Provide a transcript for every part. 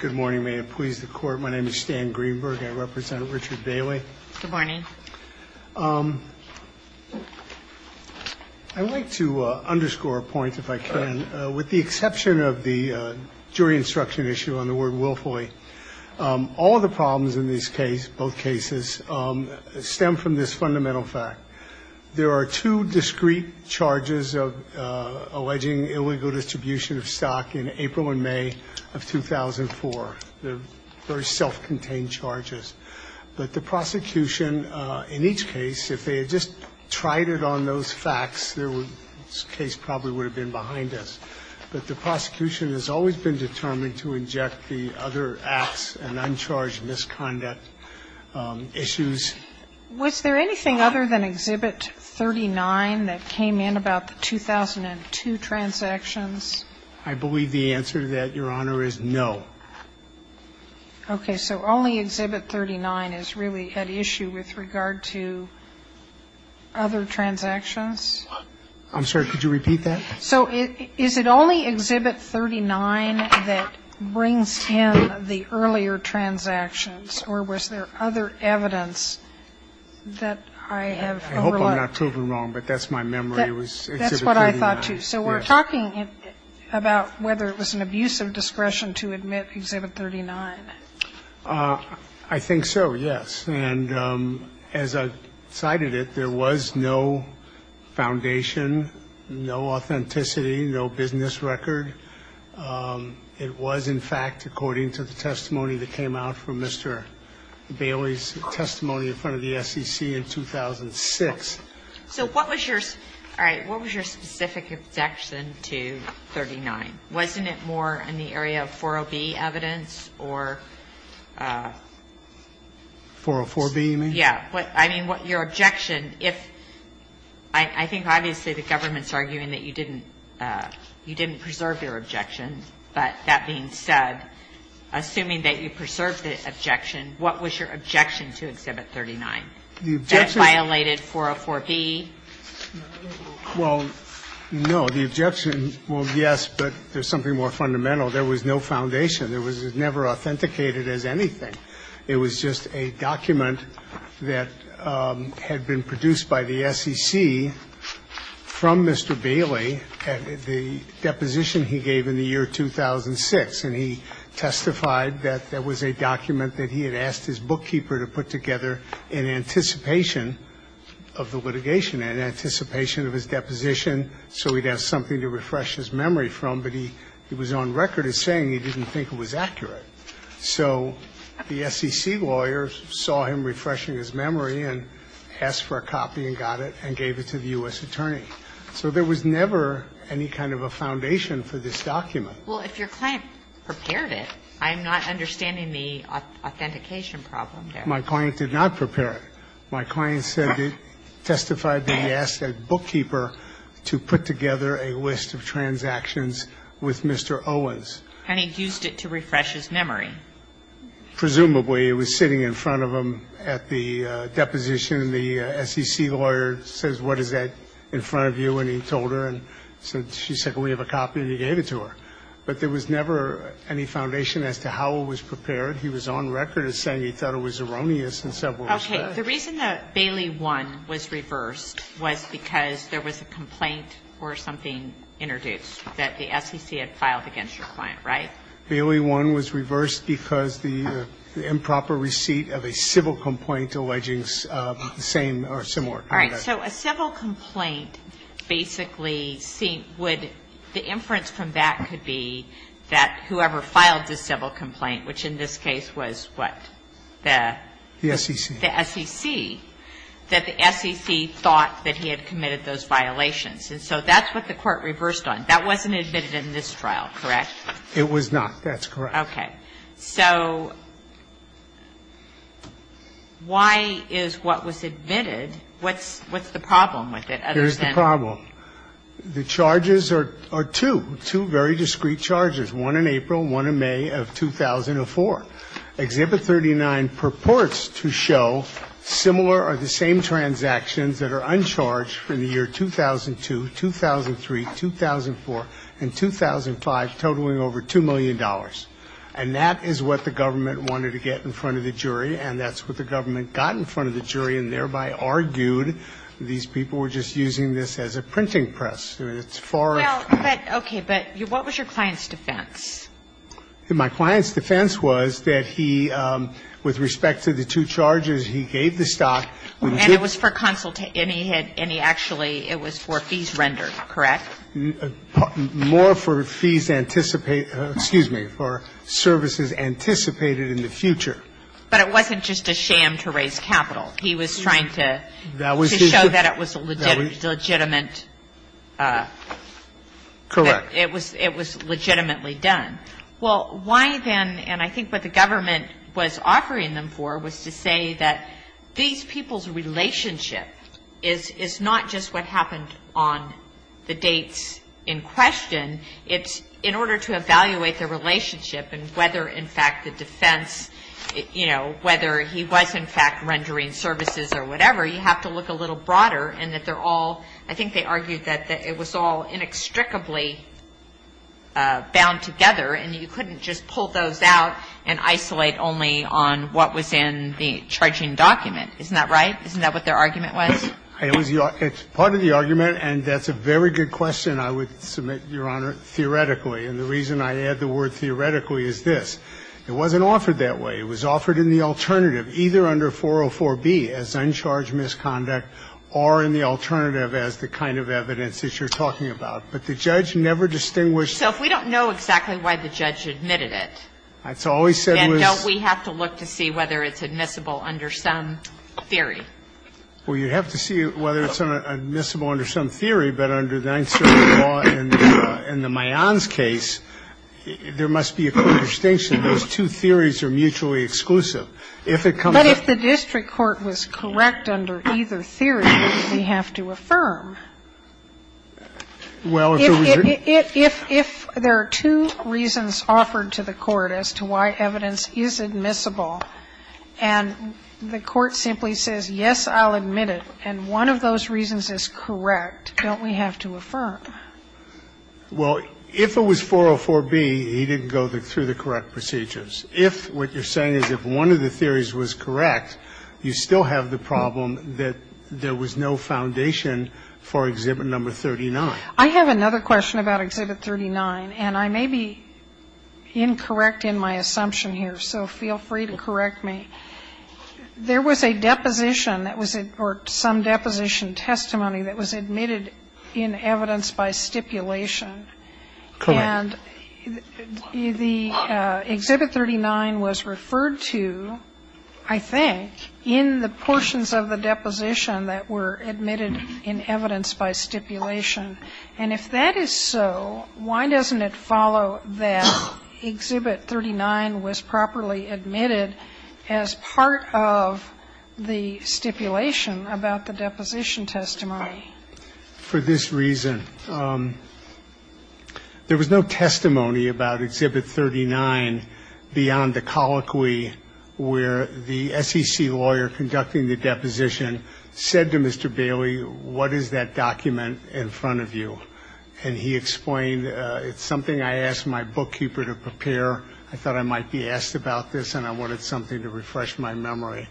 Good morning. May it please the court. My name is Stan Greenberg. I represent Richard Bailey. Good morning. I'd like to underscore a point, if I can, with the exception of the jury instruction issue on the word willfully. All the problems in this case, both cases, stem from this fundamental fact. There are two discrete charges of alleging illegal distribution of stock in April and May of 2004. They're very self-contained charges. But the prosecution in each case, if they had just tried it on those facts, this case probably would have been behind us. But the prosecution has always been determined to inject the other acts and uncharged misconduct issues. Was there anything other than Exhibit 39 that came in about the 2002 transactions? I believe the answer to that, Your Honor, is no. Okay. So only Exhibit 39 is really at issue with regard to other transactions? I'm sorry. Could you repeat that? So is it only Exhibit 39 that brings in the earlier transactions, or was there other evidence that I have overlooked? I hope I'm not proven wrong, but that's my memory. It was Exhibit 39. That's what I thought, too. So we're talking about whether it was an abuse of discretion to admit Exhibit 39. I think so, yes. And as I cited it, there was no foundation, no authenticity, no business record. It was, in fact, according to the testimony that came out from Mr. Bailey's testimony in front of the SEC in 2006. So what was your specific objection to 39? Wasn't it more in the area of 404b evidence or? 404b, you mean? Yes. I mean, your objection, if – I think obviously the government's arguing that you didn't preserve your objection. But that being said, assuming that you preserved the objection, what was your objection to Exhibit 39? That violated 404b? Well, no. The objection, well, yes, but there's something more fundamental. There was no foundation. It was never authenticated as anything. It was just a document that had been produced by the SEC from Mr. Bailey at the deposition he gave in the year 2006. And he testified that there was a document that he had asked his bookkeeper to put together in anticipation of the litigation, in anticipation of his deposition so he'd have something to refresh his memory from. But he was on record as saying he didn't think it was accurate. So the SEC lawyers saw him refreshing his memory and asked for a copy and got it and gave it to the U.S. attorney. So there was never any kind of a foundation for this document. Well, if your client prepared it, I'm not understanding the authentication problem there. My client did not prepare it. My client testified that he asked that bookkeeper to put together a list of transactions with Mr. Owens. And he used it to refresh his memory. Presumably. It was sitting in front of him at the deposition. The SEC lawyer says, what is that in front of you? And he told her and she said, well, we have a copy and he gave it to her. But there was never any foundation as to how it was prepared. He was on record as saying he thought it was erroneous in several respects. Okay. The reason that Bailey 1 was reversed was because there was a complaint or something introduced that the SEC had filed against your client, right? Bailey 1 was reversed because the improper receipt of a civil complaint alleging the same or similar conduct. All right. So a civil complaint basically would see the inference from that could be that whoever filed the civil complaint, which in this case was what? The SEC. The SEC. That the SEC thought that he had committed those violations. And so that's what the Court reversed on. That wasn't admitted in this trial, correct? It was not. That's correct. Okay. So why is what was admitted? What's the problem with it? Here's the problem. The charges are two, two very discreet charges, one in April, one in May of 2004. Exhibit 39 purports to show similar or the same transactions that are uncharged in the year 2002, 2003, 2004, and 2005, totaling over $2 million. And that is what the government wanted to get in front of the jury, and that's what the government got in front of the jury and thereby argued these people were just using this as a printing press. It's far off. Well, but okay. But what was your client's defense? My client's defense was that he, with respect to the two charges, he gave the stock. And it was for consultation. And he had, and he actually, it was for fees rendered, correct? More for fees anticipate, excuse me, for services anticipated in the future. But it wasn't just a sham to raise capital. He was trying to show that it was legitimate. Correct. It was legitimately done. Well, why then, and I think what the government was offering them for was to say that these people's relationship is not just what happened on the dates in question, it's in order to evaluate the relationship and whether, in fact, the defense, you know, whether he was, in fact, rendering services or whatever, you have to look a little broader, and that they're all, I think they argued that it was all inextricably bound together, and you couldn't just pull those out and isolate only on what was in the charging document. Isn't that right? Isn't that what their argument was? It's part of the argument, and that's a very good question I would submit, Your Honor, theoretically. And the reason I add the word theoretically is this. It wasn't offered that way. It was offered in the alternative, either under 404b as uncharged misconduct or in the alternative as the kind of evidence that you're talking about. But the judge never distinguished. So if we don't know exactly why the judge admitted it, then don't we have to look to see whether it's admissible under some theory? Well, you have to see whether it's admissible under some theory. But under the Ninth Circuit law and the Mayans case, there must be a clear distinction. Those two theories are mutually exclusive. If it comes to that. But if the district court was correct under either theory, we have to affirm. Well, if there was a reason. If there are two reasons offered to the court as to why evidence is admissible and the court simply says, yes, I'll admit it, and one of those reasons is correct, don't we have to affirm? Well, if it was 404b, he didn't go through the correct procedures. If what you're saying is if one of the theories was correct, you still have the problem that there was no foundation for Exhibit No. 39. I have another question about Exhibit 39, and I may be incorrect in my assumption here, so feel free to correct me. There was a deposition that was or some deposition testimony that was admitted in evidence by stipulation. Correct. And the Exhibit 39 was referred to, I think, in the portions of the deposition that were admitted in evidence by stipulation. And if that is so, why doesn't it follow that Exhibit 39 was properly admitted as part of the stipulation about the deposition testimony? For this reason, there was no testimony about Exhibit 39 beyond the colloquy where the SEC lawyer conducting the deposition said to Mr. Bailey, what is that document in front of you? And he explained, it's something I asked my bookkeeper to prepare. I thought I might be asked about this, and I wanted something to refresh my memory.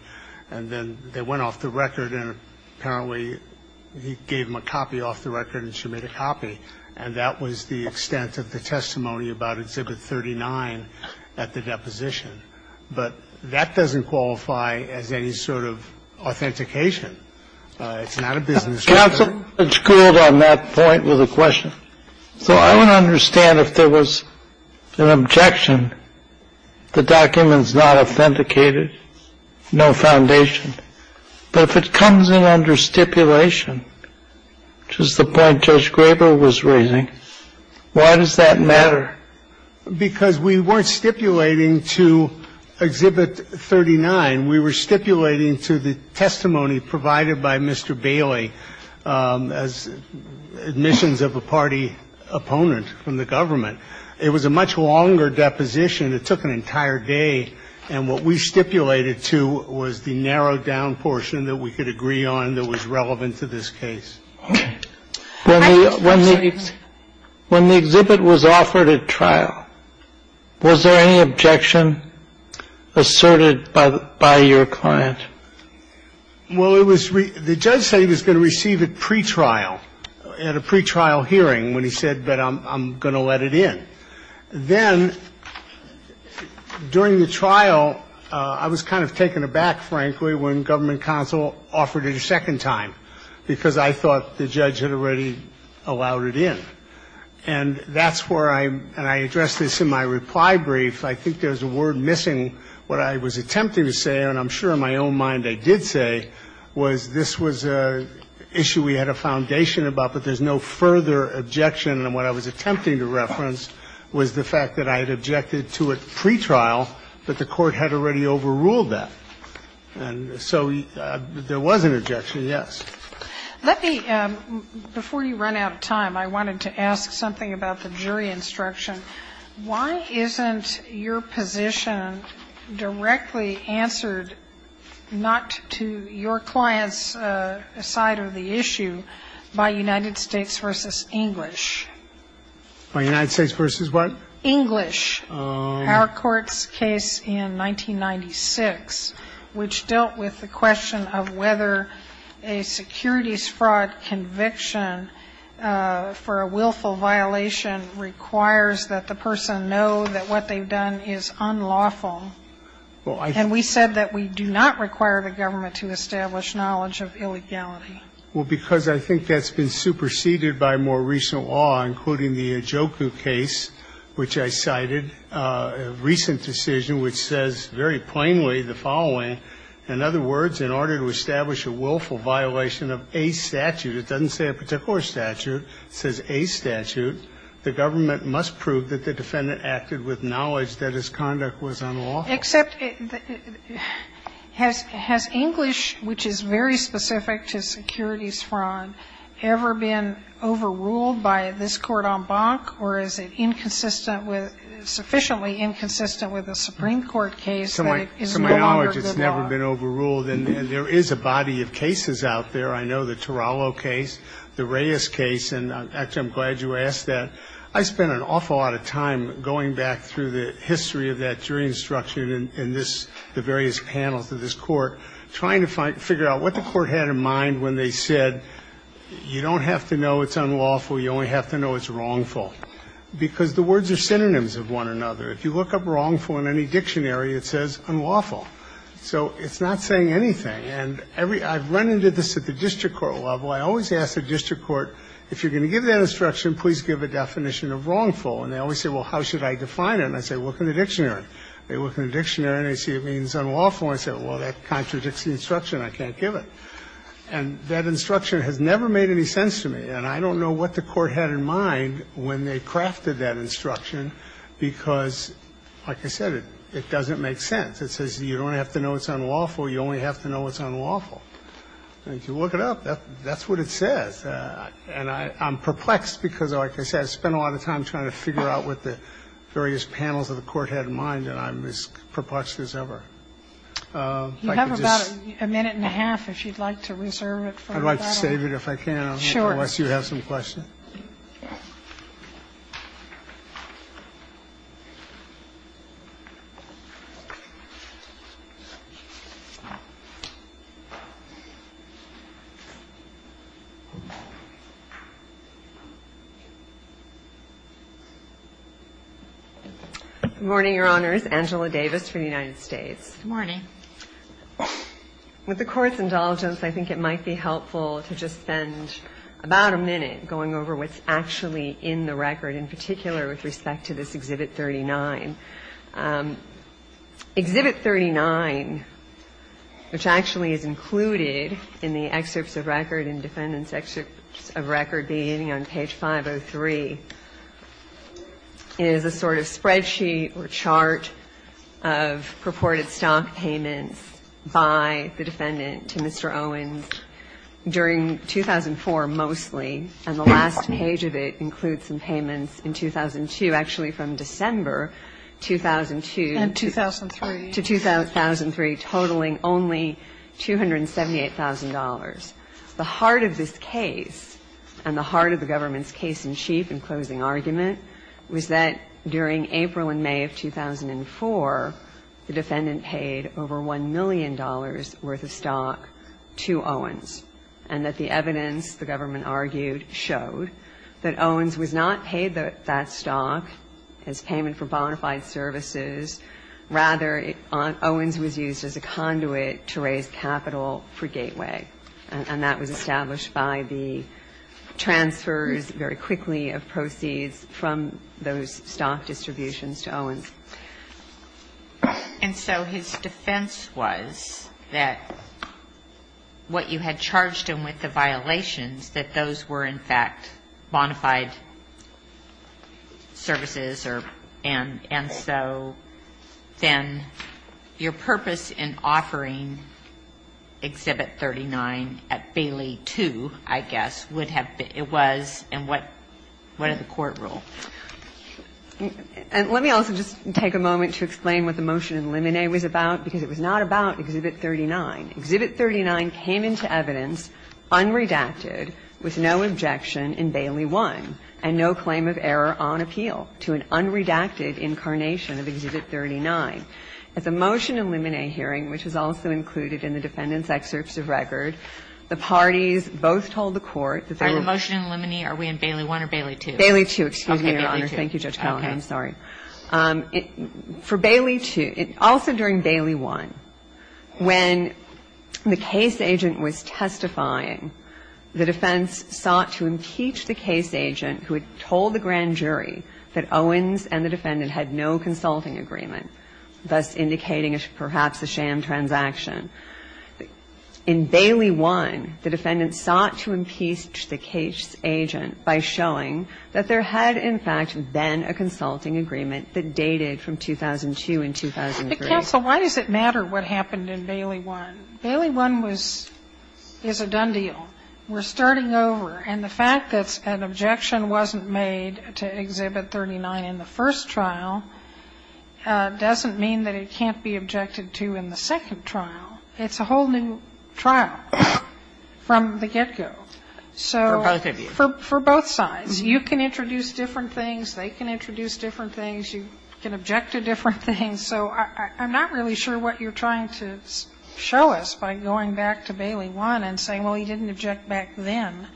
And then they went off the record, and apparently he gave them a copy off the record and she made a copy. And that was the extent of the testimony about Exhibit 39 at the deposition. But that doesn't qualify as any sort of authentication. It's not a business record. And I think the counsel had schooled on that point with a question. So I would understand if there was an objection, the document is not authenticated, no foundation. But if it comes in under stipulation, which is the point Judge Graber was raising, why does that matter? Because we weren't stipulating to Exhibit 39. We were stipulating to the testimony provided by Mr. Bailey as admissions of a party opponent from the government. It was a much longer deposition. It took an entire day. And what we stipulated to was the narrowed down portion that we could agree on that was relevant to this case. I'm sorry. When the exhibit was offered at trial, was there any objection asserted by your client? Well, the judge said he was going to receive it pretrial, at a pretrial hearing, when he said, but I'm going to let it in. Then during the trial, I was kind of taken aback, frankly, when government counsel offered it a second time, because I thought the judge had already allowed it in. And that's where I'm going to address this in my reply brief. I think there's a word missing. What I was attempting to say, and I'm sure in my own mind I did say, was this was an issue we had a foundation about, but there's no further objection. And what I was attempting to reference was the fact that I had objected to it pretrial, but the court had already overruled that. And so there was an objection, yes. Let me, before you run out of time, I wanted to ask something about the jury instruction. Why isn't your position directly answered not to your client's side of the issue by United States v. English? By United States v. what? English. Oh. Our court's case in 1996, which dealt with the question of whether a securities fraud conviction for a willful violation requires that the person know that what they've done is unlawful. And we said that we do not require the government to establish knowledge of illegality. Well, because I think that's been superseded by more recent law, including the Ijoku case, which I cited, a recent decision which says very plainly the following. In other words, in order to establish a willful violation of a statute, it doesn't say a particular statute, it says a statute, the government must prove that the defendant acted with knowledge that his conduct was unlawful. Except has English, which is very specific to securities fraud, ever been overruled by this Court en banc, or is it insufficiently inconsistent with a Supreme Court case that is no longer good law? To my knowledge, it's never been overruled. And there is a body of cases out there. I know the Tarallo case, the Reyes case. And, actually, I'm glad you asked that. I spent an awful lot of time going back through the history of that jury instruction in the various panels of this Court, trying to figure out what the Court had in mind when they said you don't have to know it's unlawful, you only have to know it's wrongful, because the words are synonyms of one another. If you look up wrongful in any dictionary, it says unlawful. So it's not saying anything. And I've run into this at the district court level. I always ask the district court, if you're going to give that instruction, please give a definition of wrongful. And they always say, well, how should I define it? And I say, look in the dictionary. They look in the dictionary and they see it means unlawful. And I say, well, that contradicts the instruction. I can't give it. And that instruction has never made any sense to me. And I don't know what the Court had in mind when they crafted that instruction, because, like I said, it doesn't make sense. It says you don't have to know it's unlawful. You only have to know it's unlawful. And if you look it up, that's what it says. And I'm perplexed because, like I said, I spent a lot of time trying to figure out what the various panels of the Court had in mind, and I'm as perplexed as ever. If I could just say. Sotomayor You have about a minute and a half if you'd like to reserve it for that. I'd like to save it if I can. Sure. Unless you have some questions. Good morning, Your Honors. Ms. Angela Davis for the United States. Good morning. With the Court's indulgence, I think it might be helpful to just spend about a minute going over what's actually in the record, in particular with respect to this Exhibit 39. Exhibit 39, which actually is included in the excerpts of record and defendant's is a sort of spreadsheet or chart of purported stock payments by the defendant to Mr. Owens during 2004 mostly, and the last page of it includes some payments in 2002, actually from December 2002. And 2003. To 2003, totaling only $278,000. The heart of this case and the heart of the government's case in chief in closing argument was that during April and May of 2004, the defendant paid over $1 million worth of stock to Owens, and that the evidence, the government argued, showed that Owens was not paid that stock as payment for bonafide services. Rather, Owens was used as a conduit to raise capital for Gateway, and that was established by the transfers very quickly of proceeds from those stock distributions to Owens. And so his defense was that what you had charged him with the violations, that those were, in fact, bonafide services, and so he was not paid that stock. And I'm just wondering if you have a different view than your purpose in offering Exhibit 39 at Bailey 2, I guess, would have been, it was, and what are the court rule? And let me also just take a moment to explain what the motion in Limine was about, because it was not about Exhibit 39. Exhibit 39 came into evidence unredacted, with no objection in Bailey 1, and no claim of error on appeal to an unredacted incarnation of Exhibit 39. At the motion in Limine hearing, which was also included in the defendant's excerpts of record, the parties both told the court that they were. Are the motion in Limine, are we in Bailey 1 or Bailey 2? Bailey 2, excuse me, Your Honor. Okay, Bailey 2. Thank you, Judge Kagan. I'm sorry. In the case of Limine, as Justice Kagan noted, the defense sought to impeach the case agent who had told the grand jury that Owens and the defendant had no consulting agreement, thus indicating perhaps a sham transaction. In Bailey 1, the defendant sought to impeach the case agent by showing that there had, in fact, been a consulting agreement. And the defense sought to impeach the case agent by showing that there had been a consulting agreement that dated from 2002 and 2003. Sotomayor, why does it matter what happened in Bailey 1? Bailey 1 was as a done deal. We're starting over. And the fact that an objection wasn't made to Exhibit 39 in the first trial doesn't mean that it can't be objected to in the second trial. It's a whole new trial from the get-go. So for both sides, you can introduce different things, they can introduce different things, you can object to different things. So I'm not really sure what you're trying to show us by going back to Bailey 1 and saying, well, he didn't object back then.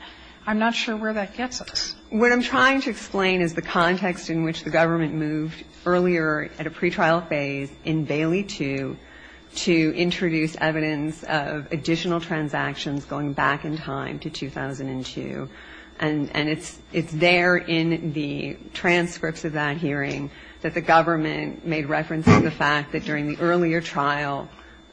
I'm not sure where that gets us. What I'm trying to explain is the context in which the government moved earlier at a pretrial phase in Bailey 2 to introduce evidence of additional transactions going back in time to 2002. And it's there in the transcripts of that hearing that the government made reference to the fact that during the earlier trial,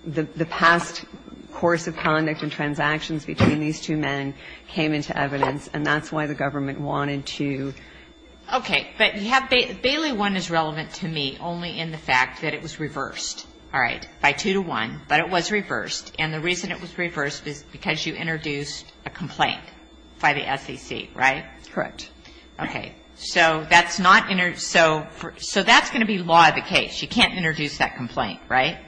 the past course of conduct and transactions between these two men came into evidence. And that's why the government wanted to. Okay. But you have Bailey 1 is relevant to me only in the fact that it was reversed. All right. By 2 to 1. But it was reversed. And the reason it was reversed is because you introduced a complaint by the SEC, right? Correct. Okay. So that's going to be law of the case. You can't introduce that complaint, right?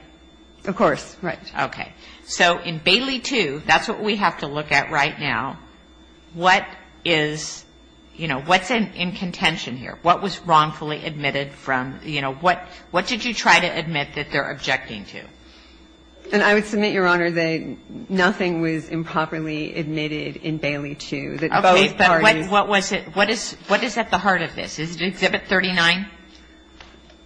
Of course. Right. Okay. So in Bailey 2, that's what we have to look at right now. What is, you know, what's in contention here? What was wrongfully admitted from, you know, what did you try to admit that they're objecting to? And I would submit, Your Honor, that nothing was improperly admitted in Bailey 2, that both parties. Okay. But what was it? What is at the heart of this? Is it Exhibit 39?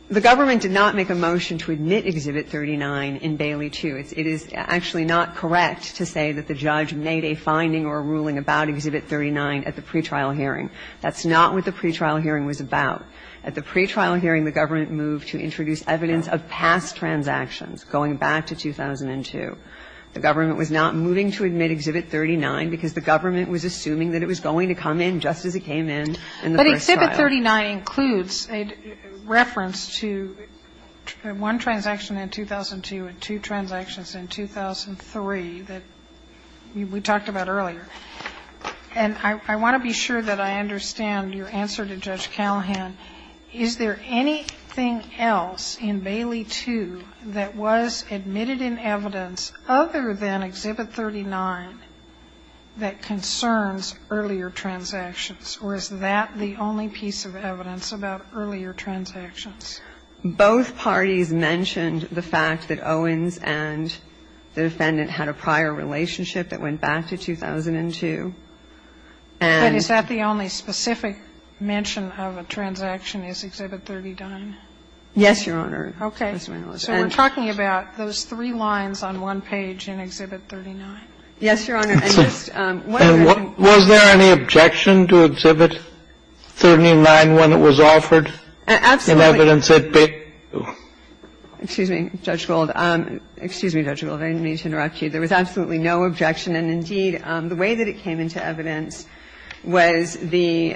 The government did not make a motion to admit Exhibit 39 in Bailey 2. It is actually not correct to say that the judge made a finding or a ruling about Exhibit 39 at the pretrial hearing. That's not what the pretrial hearing was about. At the pretrial hearing, the government moved to introduce evidence of past transactions going back to 2002. The government was not moving to admit Exhibit 39 because the government was assuming that it was going to come in just as it came in in the first trial. But Exhibit 39 includes a reference to one transaction in 2002 and two transactions in 2003 that we talked about earlier. And I want to be sure that I understand your answer to Judge Callahan. Is there anything else in Bailey 2 that was admitted in evidence other than Exhibit 39 that concerns earlier transactions? Or is that the only piece of evidence about earlier transactions? Both parties mentioned the fact that Owens and the defendant had a prior relationship that went back to 2002. But is that the only specific mention of a transaction is Exhibit 39? Yes, Your Honor. Okay. So we're talking about those three lines on one page in Exhibit 39. Yes, Your Honor. And just one other thing. And was there any objection to Exhibit 39 when it was offered? Absolutely. In evidence at Bailey 2. Excuse me, Judge Gold. Excuse me, Judge Gold. I didn't mean to interrupt you. There was absolutely no objection. And indeed, the way that it came into evidence was the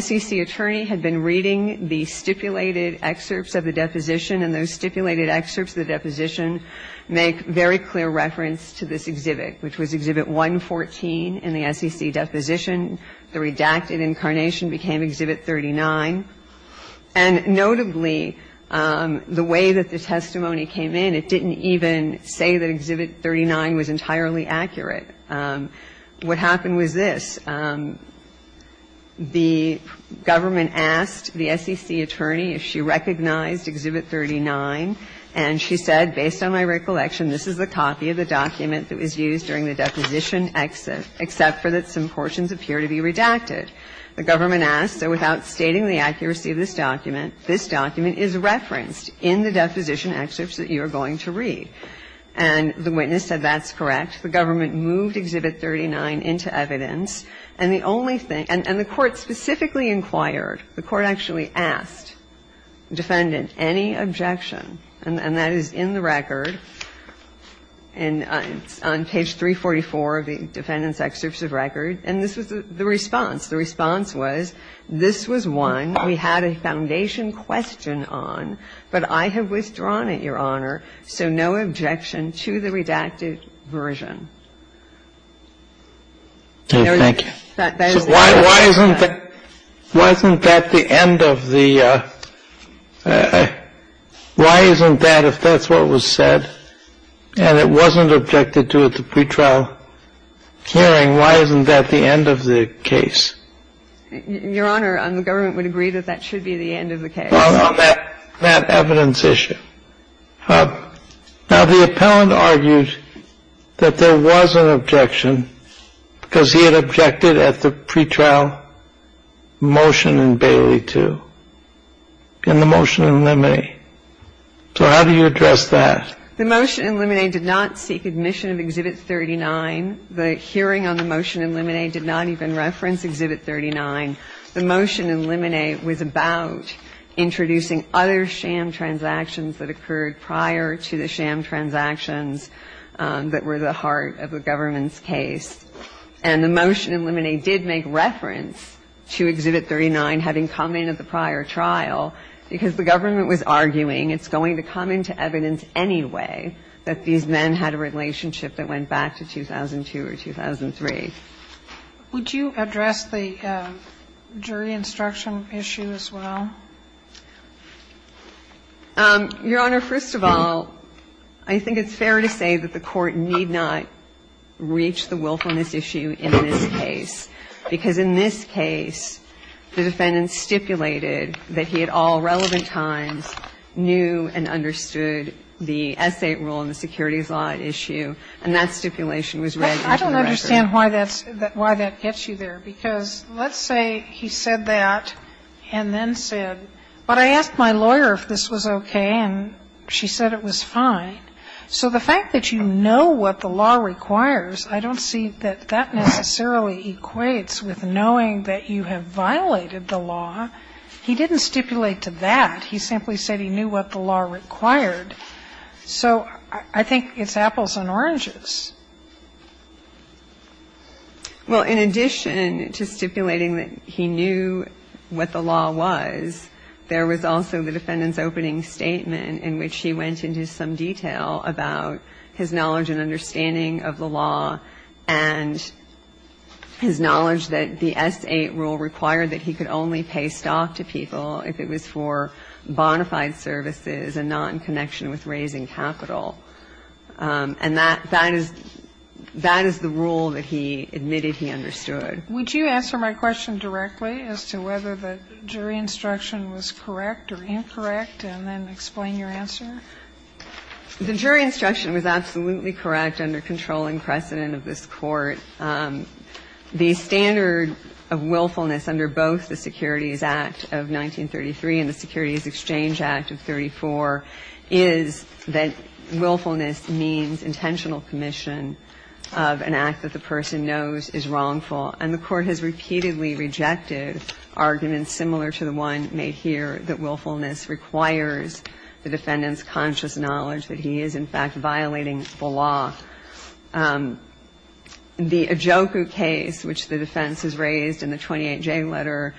SEC attorney had been reading the stipulated excerpts of the deposition, and those stipulated excerpts of the deposition make very clear reference to this exhibit, which was Exhibit 114 in the SEC deposition. The redacted incarnation became Exhibit 39. And notably, the way that the testimony came in, it didn't even say that Exhibit 39 was entirely accurate. What happened was this. The government asked the SEC attorney if she recognized Exhibit 39. And she said, based on my recollection, this is a copy of the document that was used during the deposition except for that some portions appear to be redacted. The government asked, so without stating the accuracy of this document, this document is referenced in the deposition excerpts that you are going to read. And the witness said that's correct. The government moved Exhibit 39 into evidence. And the only thing, and the Court specifically inquired, the Court actually asked defendant any objection, and that is in the record, on page 344 of the defendant's excerpts of record. And this was the response. The response was, this was one we had a foundation question on, but I have withdrawn it, Your Honor, so no objection to the redacted version. Thank you. Why isn't that the end of the, why isn't that, if that's what was said, and it wasn't objected to at the pretrial hearing, why isn't that the end of the case? Your Honor, the government would agree that that should be the end of the case. On that evidence issue. Now, the appellant argued that there was an objection because he had objected at the pretrial motion in Bailey 2, in the motion in Limine. So how do you address that? The motion in Limine did not seek admission of Exhibit 39. The hearing on the motion in Limine did not even reference Exhibit 39. The motion in Limine was about introducing other sham transactions that occurred prior to the sham transactions that were the heart of the government's case. And the motion in Limine did make reference to Exhibit 39 having come in at the prior trial because the government was arguing it's going to come into evidence anyway that these men had a relationship that went back to 2002 or 2003. Would you address the jury instruction issue as well? Your Honor, first of all, I think it's fair to say that the Court need not reach the willfulness issue in this case, because in this case, the defendant stipulated that he at all relevant times knew and understood the essay rule in the securities law issue, and that stipulation was read into the record. I don't understand why that gets you there, because let's say he said that and then said, but I asked my lawyer if this was okay, and she said it was fine. So the fact that you know what the law requires, I don't see that that necessarily equates with knowing that you have violated the law. He didn't stipulate to that. He simply said he knew what the law required. So I think it's apples and oranges. Well, in addition to stipulating that he knew what the law was, there was also the defendant's opening statement in which he went into some detail about his knowledge and understanding of the law and his knowledge that the S-8 rule required that he could only pay stock to people if it was for bona fide services and not in connection with raising capital, and that is the rule that he admitted he understood. Would you answer my question directly as to whether the jury instruction was correct or incorrect, and then explain your answer? The jury instruction was absolutely correct under controlling precedent of this Court. The standard of willfulness under both the Securities Act of 1933 and the Securities Exchange Act of 1934 is that willfulness means intentional commission of an act that the person knows is wrongful, and the Court has repeatedly rejected arguments similar to the one made here that willfulness requires the defendant's conscious knowledge that he is, in fact, violating the law. The Ajoku case, which the defense has raised in the 28J letter,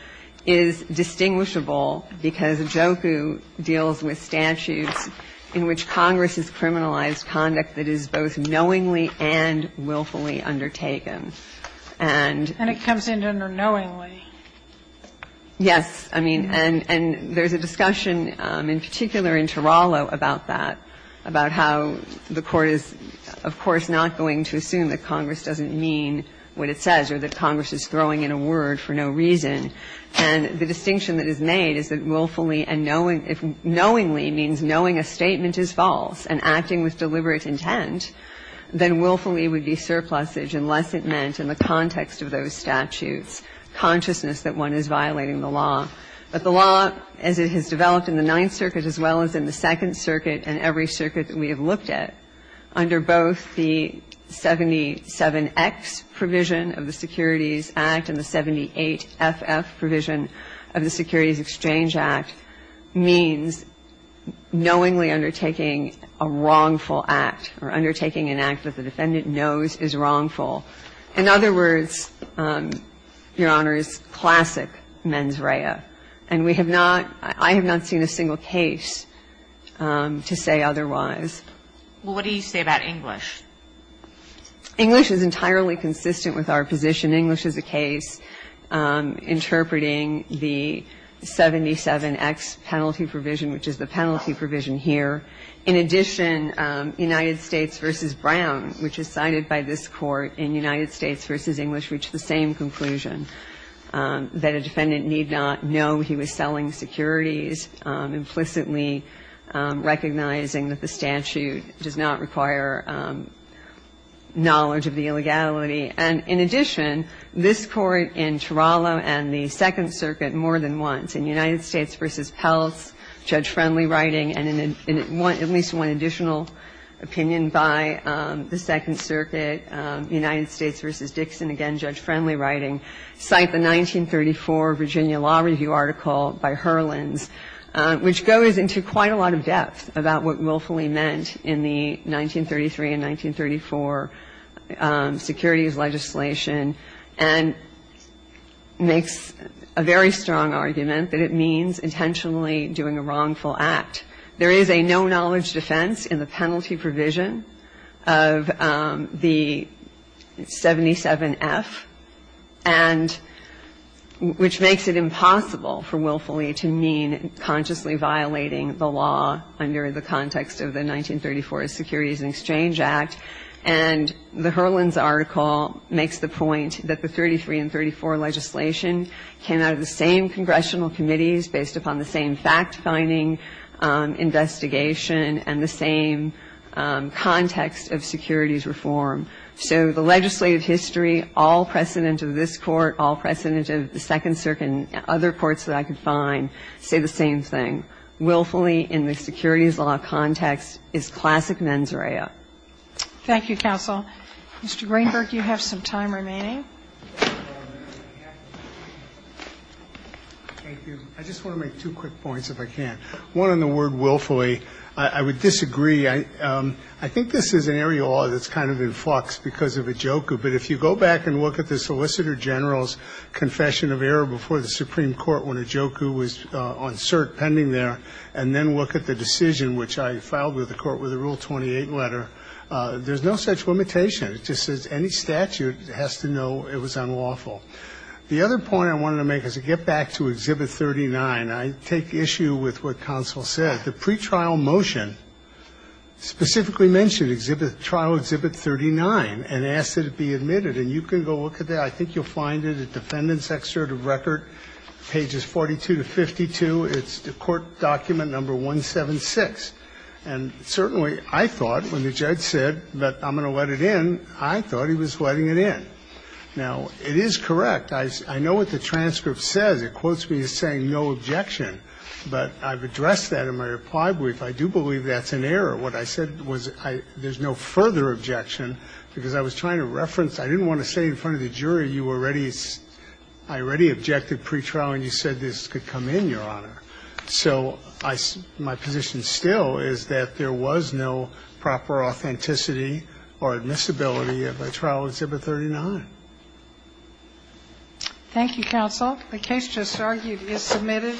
is distinguishable because Ajoku deals with statutes in which Congress has criminalized conduct that is both knowingly and willfully undertaken. And it's not just knowingly. It's knowingly. And it comes in under knowingly. Yes. I mean, and there's a discussion in particular in Tarallo about that, about how the Court is, of course, not going to assume that Congress doesn't mean what it says or that Congress is throwing in a word for no reason. And the distinction that is made is that willfully and knowingly means knowing a statement is false and acting with deliberate intent, then willfully would be surplusage unless it meant in the context of those statutes consciousness that one is violating the law. But the law, as it has developed in the Ninth Circuit as well as in the Second Circuit and every circuit that we have looked at, under both the 77X provision of the Securities Act and the 78FF provision of the Securities Exchange Act means knowingly undertaking a wrongful act or undertaking an act that the defendant knows is wrongful. In other words, Your Honor, it's classic mens rea. And we have not, I have not seen a single case to say otherwise. Well, what do you say about English? English is entirely consistent with our position. In English is a case interpreting the 77X penalty provision, which is the penalty provision here. In addition, United States v. Brown, which is cited by this Court in United States v. English, reached the same conclusion, that a defendant need not know he was selling securities, implicitly recognizing that the statute does not require knowledge of the illegality. And in addition, this Court in Tarallo and the Second Circuit more than once, in United States v. Peltz, Judge Friendly writing, and in at least one additional opinion by the Second Circuit, United States v. Dixon, again, Judge Friendly writing, cite the 1934 Virginia Law Review article by Herlins, which goes into quite a lot of depth about what willfully meant in the 1934 Securities and Exchange Act. And it's a very strong argument that it means intentionally doing a wrongful act. There is a no-knowledge defense in the penalty provision of the 77F, and which makes it impossible for willfully to mean consciously violating the law under the context of the 1934 Securities and Exchange Act. And the Herlins article makes the point that the 1933 and 1934 legislation came out of the same congressional committees based upon the same fact-finding investigation and the same context of securities reform. So the legislative history, all precedent of this Court, all precedent of the Second Circuit and other courts that I could find, say the same thing. Willfully in the securities law context is classic mens rea. Thank you, counsel. Mr. Greenberg, you have some time remaining. Thank you. I just want to make two quick points, if I can. One on the word willfully. I would disagree. I think this is an area that's kind of in flux because of Ijoku. But if you go back and look at the Solicitor General's confession of error before the Supreme Court when Ijoku was on cert pending there, and then look at the decision which I filed with the Court with the Rule 28 letter, there's no such limitation. It just says any statute has to know it was unlawful. The other point I wanted to make is to get back to Exhibit 39. I take issue with what counsel said. The pretrial motion specifically mentioned trial Exhibit 39 and asked that it be admitted. And you can go look at that. I think you'll find it at Defendant's Excerpt of Record, pages 42 to 52. It's the court document number 176. And certainly I thought when the judge said that I'm going to let it in, I thought he was letting it in. Now, it is correct. I know what the transcript says. It quotes me as saying no objection. But I've addressed that in my reply brief. I do believe that's an error. What I said was there's no further objection because I was trying to reference ñ I didn't want to say in front of the jury you already ñ I already objected to the pretrial and you said this could come in, Your Honor. So my position still is that there was no proper authenticity or admissibility of a trial of Exhibit 39. Thank you, counsel. The case just argued is submitted.